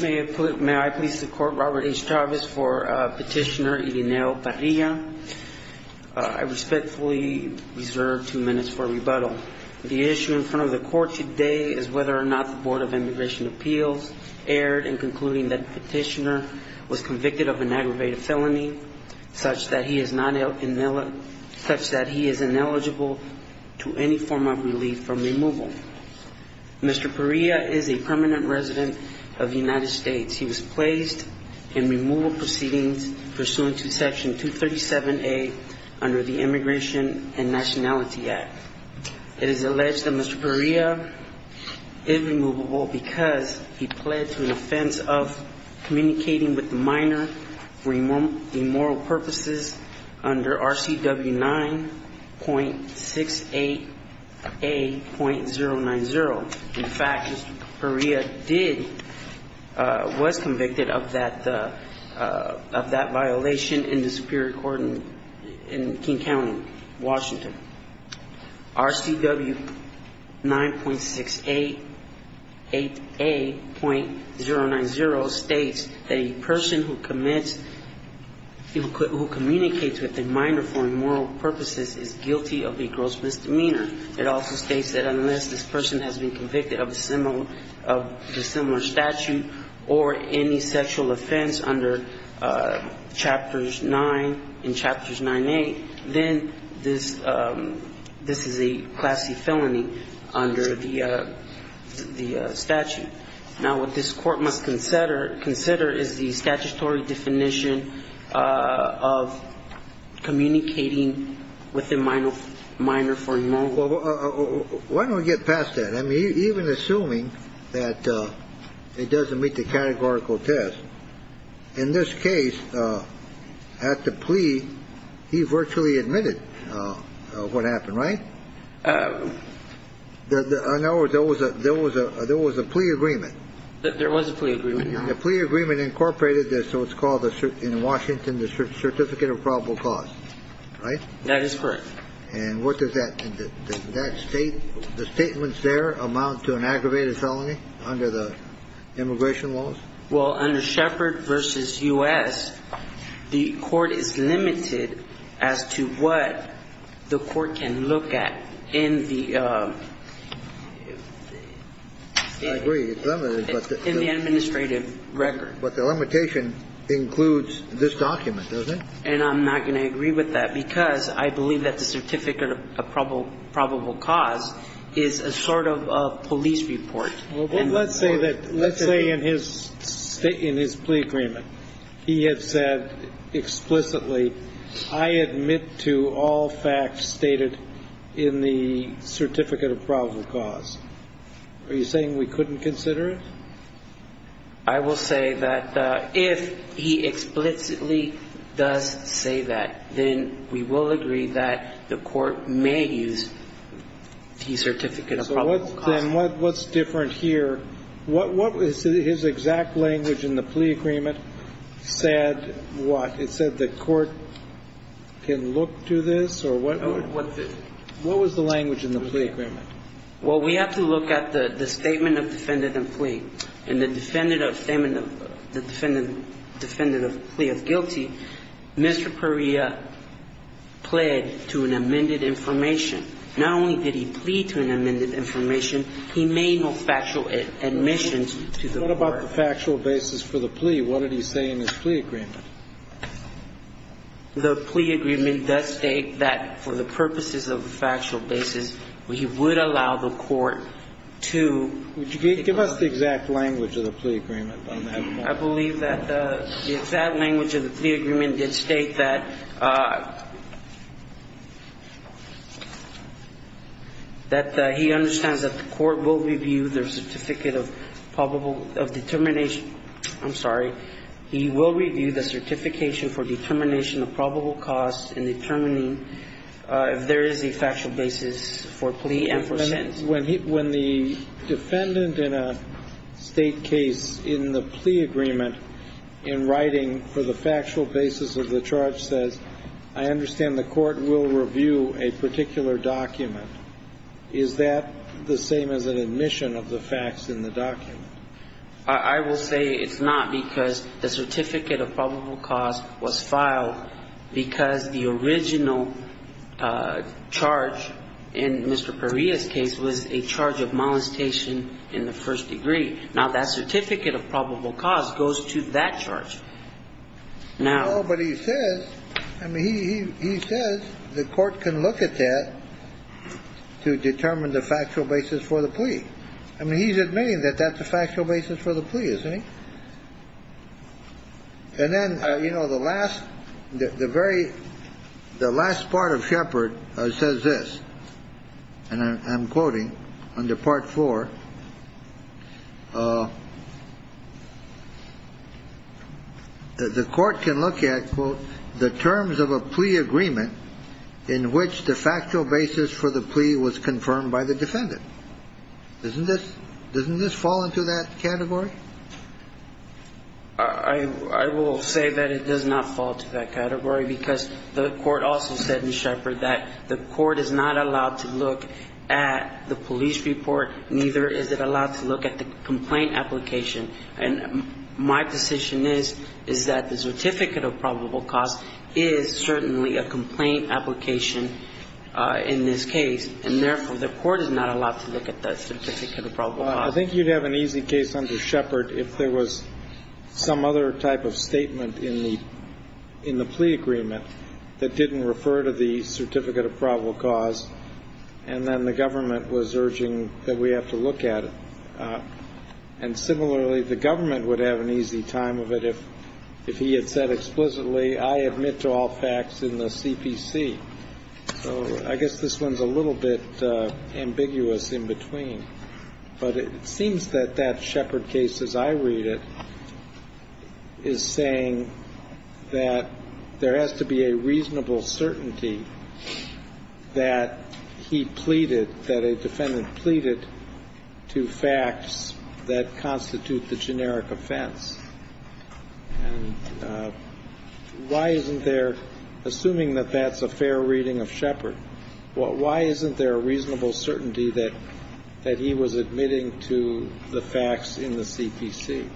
May I please support Robert H. Chavez for Petitioner Irineo Parrilla. I respectfully reserve two minutes for rebuttal. The issue in front of the court today is whether or not the Board of Immigration Appeals erred in concluding that the petitioner was convicted of an aggravated felony such that he is ineligible to any form of relief from removal. Mr. Parrilla is a permanent resident of the United States. He was placed in removal proceedings pursuant to Section 237A under the Immigration and Nationality Act. It is alleged that Mr. Parrilla is removable because he pled to an offense of communicating with a minor for immoral purposes under RCW 9.68A.090. In fact, Mr. Parrilla did, was convicted of that, of that violation in the Superior Court in King County, Washington. RCW 9.68A.090 states that a person who commits, who communicates with a minor for immoral purposes is guilty of a gross misdemeanor. It also states that unless this person has been convicted of a similar statute or any sexual offense under Chapters 9 and Chapters 9.8, then this is a Class C felony under the statute. Now, what this Court must consider is the statutory definition of communicating with a minor for immoral purposes. Why don't we get past that? I mean, even assuming that it doesn't meet the categorical test, in this case, at the plea, he virtually admitted what happened, right? In other words, there was a plea agreement. There was a plea agreement. The plea agreement incorporated this, so it's called in Washington the Certificate of Probable Cause, right? That is correct. And what does that, does that state, the statements there amount to an aggravated felony under the immigration laws? Well, under Shepard v. U.S., the Court is limited as to what the Court can look at in the the administrative record. But the limitation includes this document, doesn't it? And I'm not going to agree with that, because I believe that the Certificate of Probable Cause is a sort of police report. Well, let's say that, let's say in his plea agreement, he had said explicitly, I admit to all facts stated in the Certificate of Probable Cause. Are you saying we couldn't consider it? I will say that if he explicitly does say that, then we will agree that the Court can look to this, or what was the language in the plea agreement? Well, we have to look at the statement of defendant and plea. In the defendant of defendant of plea of guilty, Mr. Perea pled to an amended information. Not only did he plea to an amended information, he made no factual admissions to the court. What about the factual basis for the plea? What did he say in his plea agreement? The plea agreement does state that for the purposes of the factual basis, we would allow the Court to be able to do that. Give us the exact language of the plea agreement on that point. I believe that the exact language of the plea agreement did state that he understands that the Court will review the Certificate of Probable, of Determination, I'm sorry, he will review the Certification for Determination of Probable Cause in determining if there is a factual basis for plea and for sentence. When the defendant in a State case in the plea agreement in writing for the factual basis of the charge says, I understand the Court will review a particular document, is that the same as an admission of the facts in the document? I will say it's not because the Certificate of Probable Cause was filed because the original charge in Mr. Perea's case was a charge of molestation in the first degree. Now, that Certificate of Probable Cause goes to that charge. Now he says the Court can look at that to determine the factual basis for the plea. I mean, he's admitting that that's the factual basis for the plea, isn't he? And then, you know, the last, the very, the last part of Shepard says this, and I'm quoting under Part 4, the Court can look at, quote, the terms of a plea agreement in which the factual basis for the plea was confirmed by the defendant. Isn't this, doesn't this fall into that category? I will say that it does not fall into that category because the Court also said in Shepard that the Court is not allowed to look at the police report, neither is it allowed to look at the complaint application. And my position is, is that the Certificate of Probable Cause is certainly a complaint application in this case. And therefore, the Court is not allowed to look at the Certificate of Probable Cause. I think you'd have an easy case under Shepard if there was some other type of statement in the, in the plea agreement that didn't refer to the Certificate of Probable Cause, and then the government was urging that we have to look at it. And similarly, the government would have an easy time of it if, if he had said explicitly, I admit to all facts in the CPC. So I guess this one's a little bit ambiguous in between. But it seems that that Shepard case, as I read it, is saying that there has to be a reasonable certainty that he pleaded, that a defendant pleaded to facts that constitute the generic offense. And why isn't there, assuming that that's a fair reading of Shepard, why isn't there a reasonable certainty that, that he was admitting to the facts in the CPC?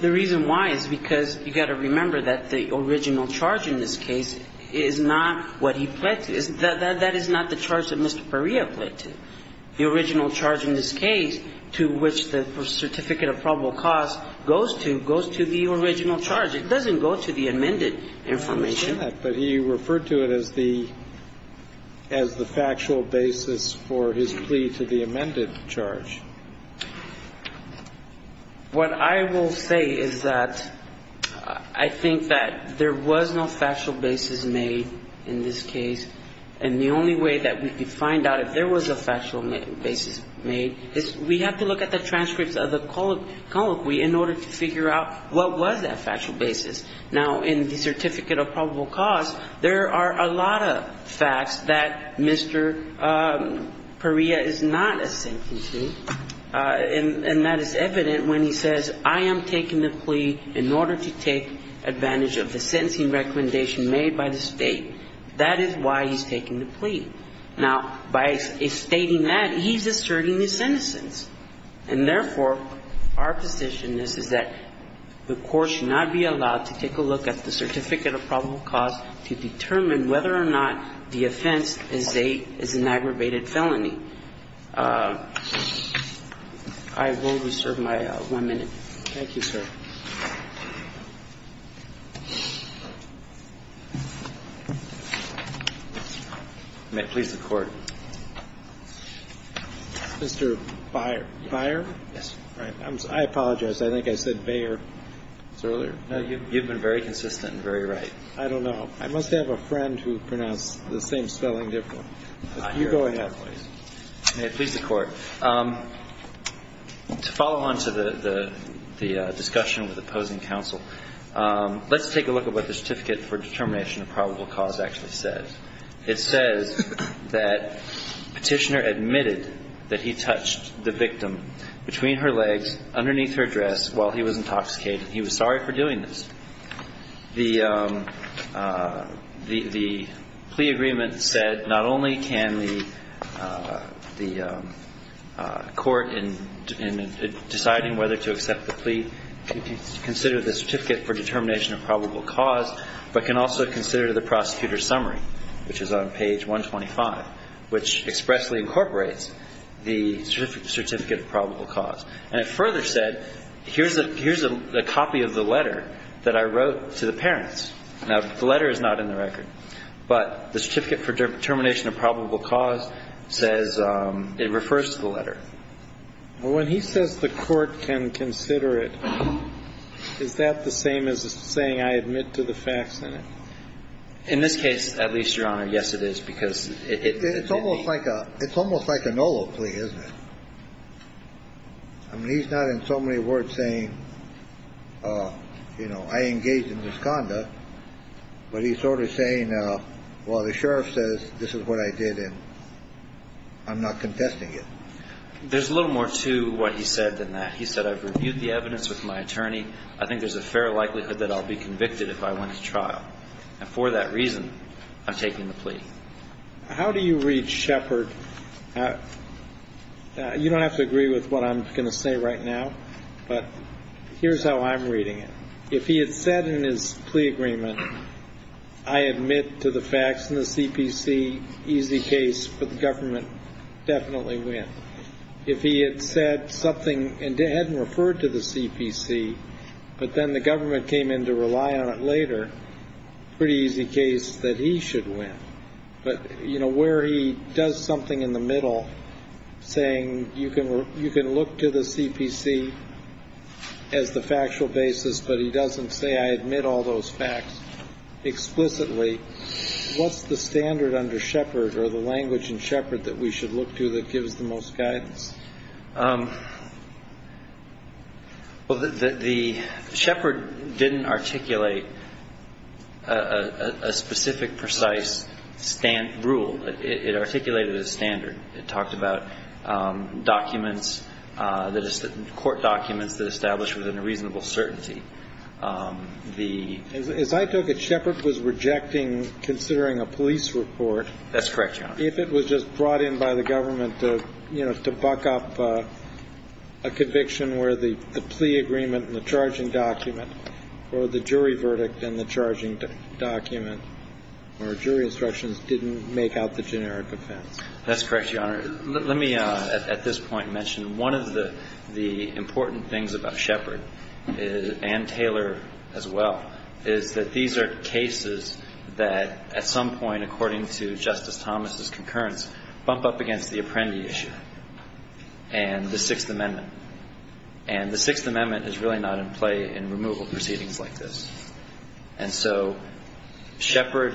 The reason why is because you've got to remember that the original charge in this case is not what he pledged, that is not the charge that Mr. Perea pledged. The original charge in this case, to which the Certificate of Probable Cause goes to, goes to the original charge. It doesn't go to the amended information. But he referred to it as the, as the factual basis for his plea to the amended charge. What I will say is that I think that there was no factual basis made in this case. And the only way that we could find out if there was a factual basis made is we have to look at the transcripts of the colloquy in order to figure out what was that factual basis. Now, in the Certificate of Probable Cause, there are a lot of facts that Mr. Perea is not a sentencing. And that is evident when he says, I am taking the plea in order to take advantage of the sentencing recommendation made by the State. That is why he's taking the plea. Now, by stating that, he's asserting his innocence. And therefore, our position is, is that the Court should not be allowed to take a look at the Certificate of Probable Cause to determine whether or not the offense is a, is an aggravated felony. I will reserve my one minute. Roberts. Thank you, sir. May it please the Court. Mr. Byer. Yes. Right. I apologize. I think I said Bayer earlier. No, you've been very consistent and very right. I don't know. I must have a friend who pronounced the same spelling different. You go ahead. May it please the Court. To follow on to the discussion with opposing counsel, let's take a look at what the Certificate for Determination of Probable Cause actually says. It says that Petitioner admitted that he touched the victim between her legs, underneath her dress, while he was intoxicated. He was sorry for doing this. The plea agreement said not only can the Court, in deciding whether to accept the plea, consider the Certificate for Determination of Probable Cause, but can also consider the prosecutor's summary. Which is on page 125, which expressly incorporates the Certificate of Probable Cause. And it further said, here's a copy of the letter that I wrote to the parents. Now, the letter is not in the record, but the Certificate for Determination of Probable Cause says it refers to the letter. Well, when he says the Court can consider it, is that the same as saying I admit to the facts in it? In this case, at least, Your Honor, yes, it is. Because it's almost like a no-look plea, isn't it? I mean, he's not in so many words saying, you know, I engaged in this conduct. But he's sort of saying, well, the Sheriff says this is what I did, and I'm not contesting it. There's a little more to what he said than that. He said, I've reviewed the evidence with my attorney. I think there's a fair likelihood that I'll be convicted if I went to trial. And for that reason, I'm taking the plea. How do you read Shepard? You don't have to agree with what I'm going to say right now. But here's how I'm reading it. If he had said in his plea agreement, I admit to the facts in the CPC, easy case for the government, definitely win. If he had said something and hadn't referred to the CPC, but then the government came in to rely on it later, pretty easy case that he should win. But where he does something in the middle, saying you can look to the CPC as the factual basis, but he doesn't say, I admit all those facts explicitly, what's the standard under Shepard or the language in Shepard that we should look to that gives the most guidance? Well, the Shepard didn't articulate a specific, precise rule. It articulated a standard. It talked about documents, court documents that established within a reasonable As I took it, Shepard was rejecting, considering a police report, if it was just brought in by the government to buck up a conviction where the plea agreement and the charging document or the jury verdict and the charging document or jury instructions didn't make out the generic offense. That's correct, Your Honor. Let me at this point mention one of the important things about Shepard and Taylor as well is that these are cases that at some point, according to Justice Thomas' concurrence, bump up against the Apprendi issue and the Sixth Amendment. And the Sixth Amendment is really not in play in removal proceedings like this. And so Shepard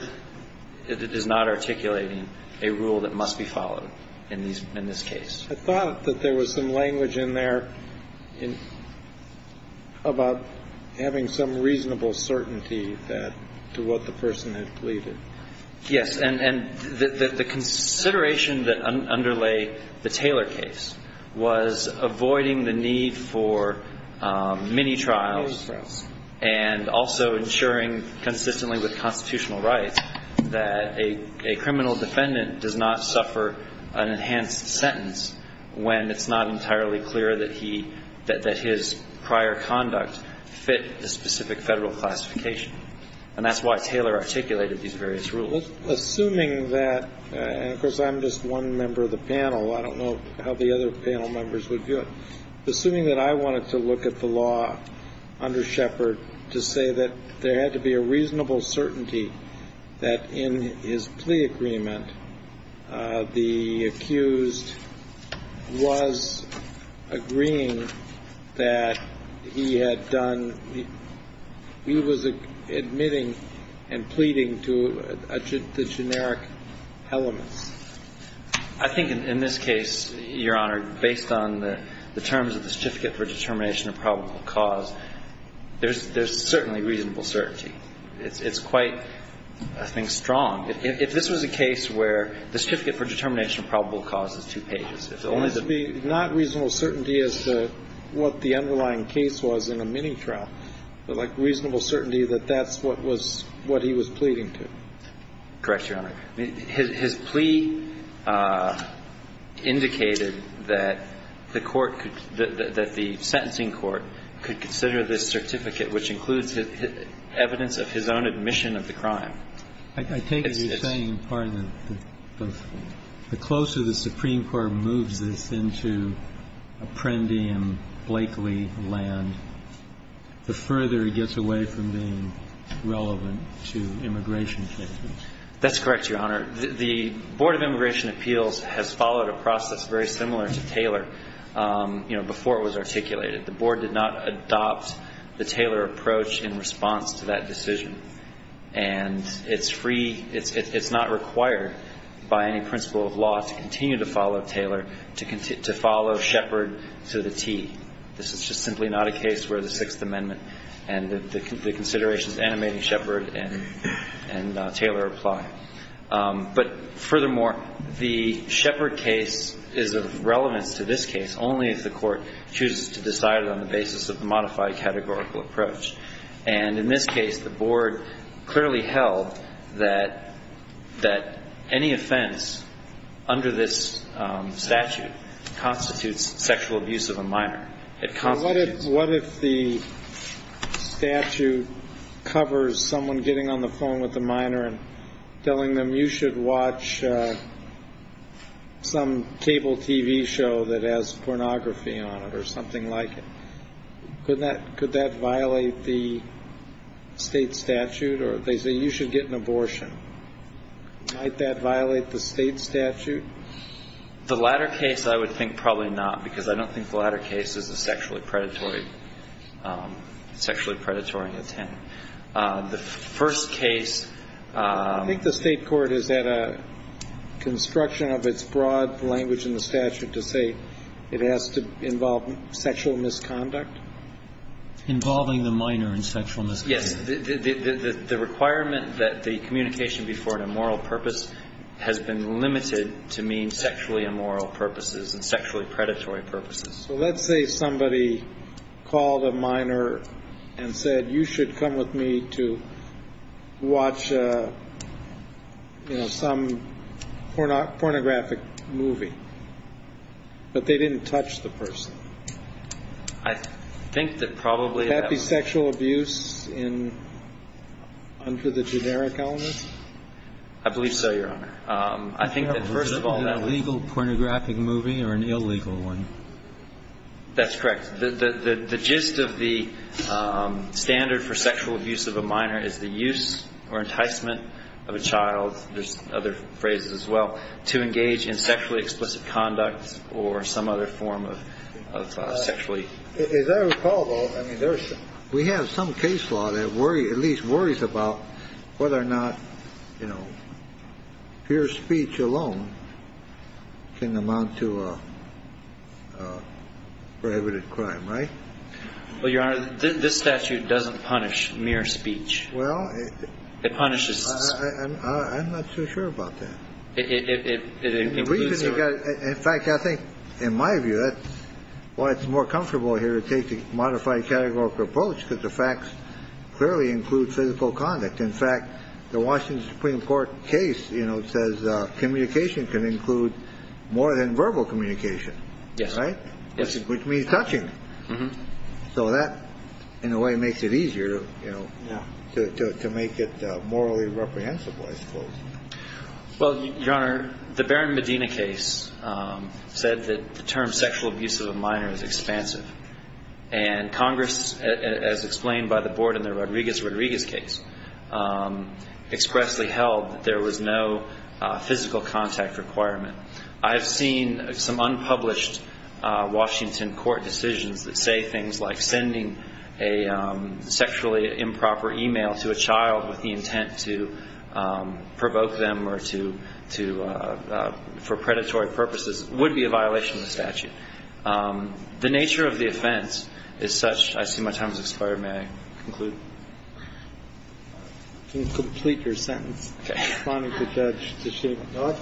is not articulating a rule that must be followed in this case. I thought that there was some language in there about having some reasonable certainty to what the person had pleaded. Yes. And the consideration that underlay the Taylor case was avoiding the need for mini-trials and also ensuring consistently with constitutional rights that a criminal defendant does not suffer an enhanced sentence when it's not entirely clear that he, that his prior conduct fit the specific Federal classification. And that's why Taylor articulated these various rules. Well, assuming that, and of course, I'm just one member of the panel. I don't know how the other panel members would view it. Assuming that I wanted to look at the law under Shepard to say that there had to be a reasonable certainty that in his plea agreement, the accused was agreeing to the generic elements. I think in this case, Your Honor, based on the terms of the Certificate for Determination of Probable Cause, there's certainly reasonable certainty. It's quite, I think, strong. If this was a case where the Certificate for Determination of Probable Cause is two pages, if only the... Not reasonable certainty as to what the underlying case was in a mini-trial, but like reasonable certainty that that's what was, what he was pleading to. Correct, Your Honor. His plea indicated that the court could, that the sentencing court could consider this certificate, which includes evidence of his own admission of the crime. I take it you're saying, pardon me, the closer the Supreme Court moves this into Apprendi and Blakely land, the further it gets away from being relevant to immigration cases. That's correct, Your Honor. The Board of Immigration Appeals has followed a process very similar to Taylor before it was articulated. The board did not adopt the Taylor approach in response to that decision. And it's free, it's not required by any principle of law to continue to follow Taylor, to follow Shepard to the T. This is just simply not a case where the Sixth Amendment and the considerations animating Shepard and Taylor apply. But furthermore, the Shepard case is of relevance to this case only if the court chooses to decide it on the basis of the modified categorical approach. And in this case, the board clearly held that any offense under this statute constitutes sexual abuse of a minor. What if the statute covers someone getting on the phone with a minor and telling them you should watch some cable TV show that has pornography on it or something like it? Could that violate the state statute? Or they say you should get an abortion. Might that violate the state statute? The latter case, I would think probably not because I don't think the latter case is a sexually predatory, sexually predatory intent. The first case... I think the state court has had a construction of its broad language in the statute to say it has to involve sexual misconduct. Involving the minor in sexual misconduct. Yes, the requirement that the communication be for an immoral purpose has been limited to mean sexually immoral purposes and sexually predatory purposes. So let's say somebody called a minor and said you should come with me to watch some pornographic movie, but they didn't touch the person. I think that probably... Could that be sexual abuse under the generic elements? I believe so, Your Honor. I think that first of all... Was it an illegal pornographic movie or an illegal one? That's correct. The gist of the standard for sexual abuse of a minor is the use or enticement of a child, there's other phrases as well, to engage in sexually explicit conduct or some other form of sexually... As I recall, though, I mean, there's... We have some case law that at least worries about whether or not, you know, pure speech alone can amount to a prohibited crime, right? Well, Your Honor, this statute doesn't punish mere speech. Well, it... It punishes... I'm not so sure about that. It includes... The reason you got... In fact, I think, in my view, that's why it's more comfortable here to take the modified categorical approach because the facts clearly include physical conduct. In fact, the Washington Supreme Court case, you know, says communication can include more than verbal communication. Yes. Right? Yes. Which means touching. So that, in a way, makes it easier, you know, to make it morally reprehensible, I suppose. Well, Your Honor, the Barron-Medina case said that the term sexual abuse of a minor is expansive. And Congress, as explained by the board in the Rodriguez-Rodriguez case, expressly held that there was no physical contact requirement. I've seen some unpublished Washington court decisions that say things like sending a sexually improper e-mail to a child with the intent to provoke them or to... for predatory purposes would be a violation of the statute. The nature of the offense is such... I see my time has expired. May I conclude? You can complete your sentence. Okay. Responding to Judge Teshek. To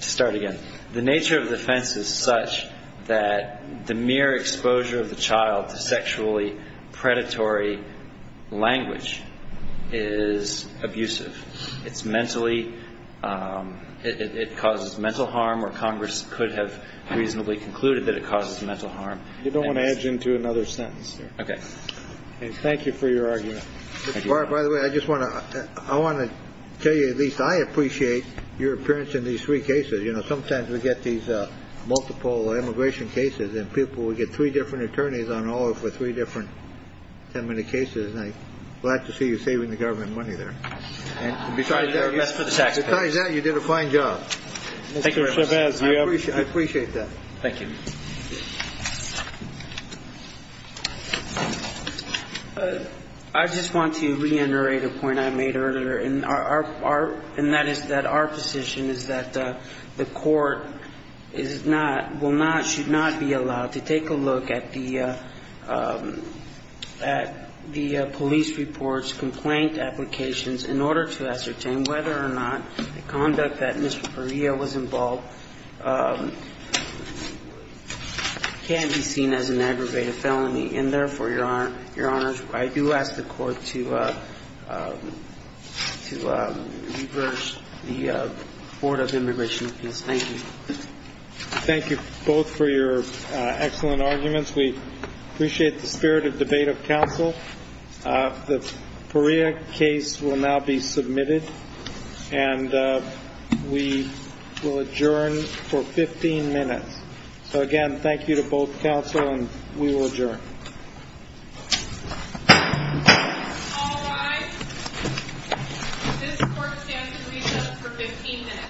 start again, the nature of the offense is such that the mere exposure of the child to sexually predatory language is abusive. It's mentally... It causes mental harm, or Congress could have reasonably concluded that it causes mental harm. You don't want to edge into another sentence there. Okay. And thank you for your argument. By the way, I just want to... I want to tell you, at least I appreciate your appearance in these three cases. You know, sometimes we get these multiple immigration cases, and people will get three different attorneys on order for three different... 10-minute cases, and I'm glad to see you saving the government money there. And besides that, you did a fine job. Thank you, Mr. Vez. I appreciate that. Thank you. I just want to reiterate a point I made earlier, and that is that our position is that the Court is not, will not, should not be allowed to take a look at the police report's complaint applications in order to ascertain whether or not the conduct that Mr. Perea was involved can be seen as an aggravated felony. And therefore, Your Honors, I do ask the Court to reverse the Board of Immigration case. Thank you. Thank you both for your excellent arguments. We appreciate the spirit of debate of counsel. The Perea case will now be submitted, and we will adjourn for 15 minutes. So again, thank you to both counsel, and we will adjourn. All rise. This Court stands to recess for 15 minutes.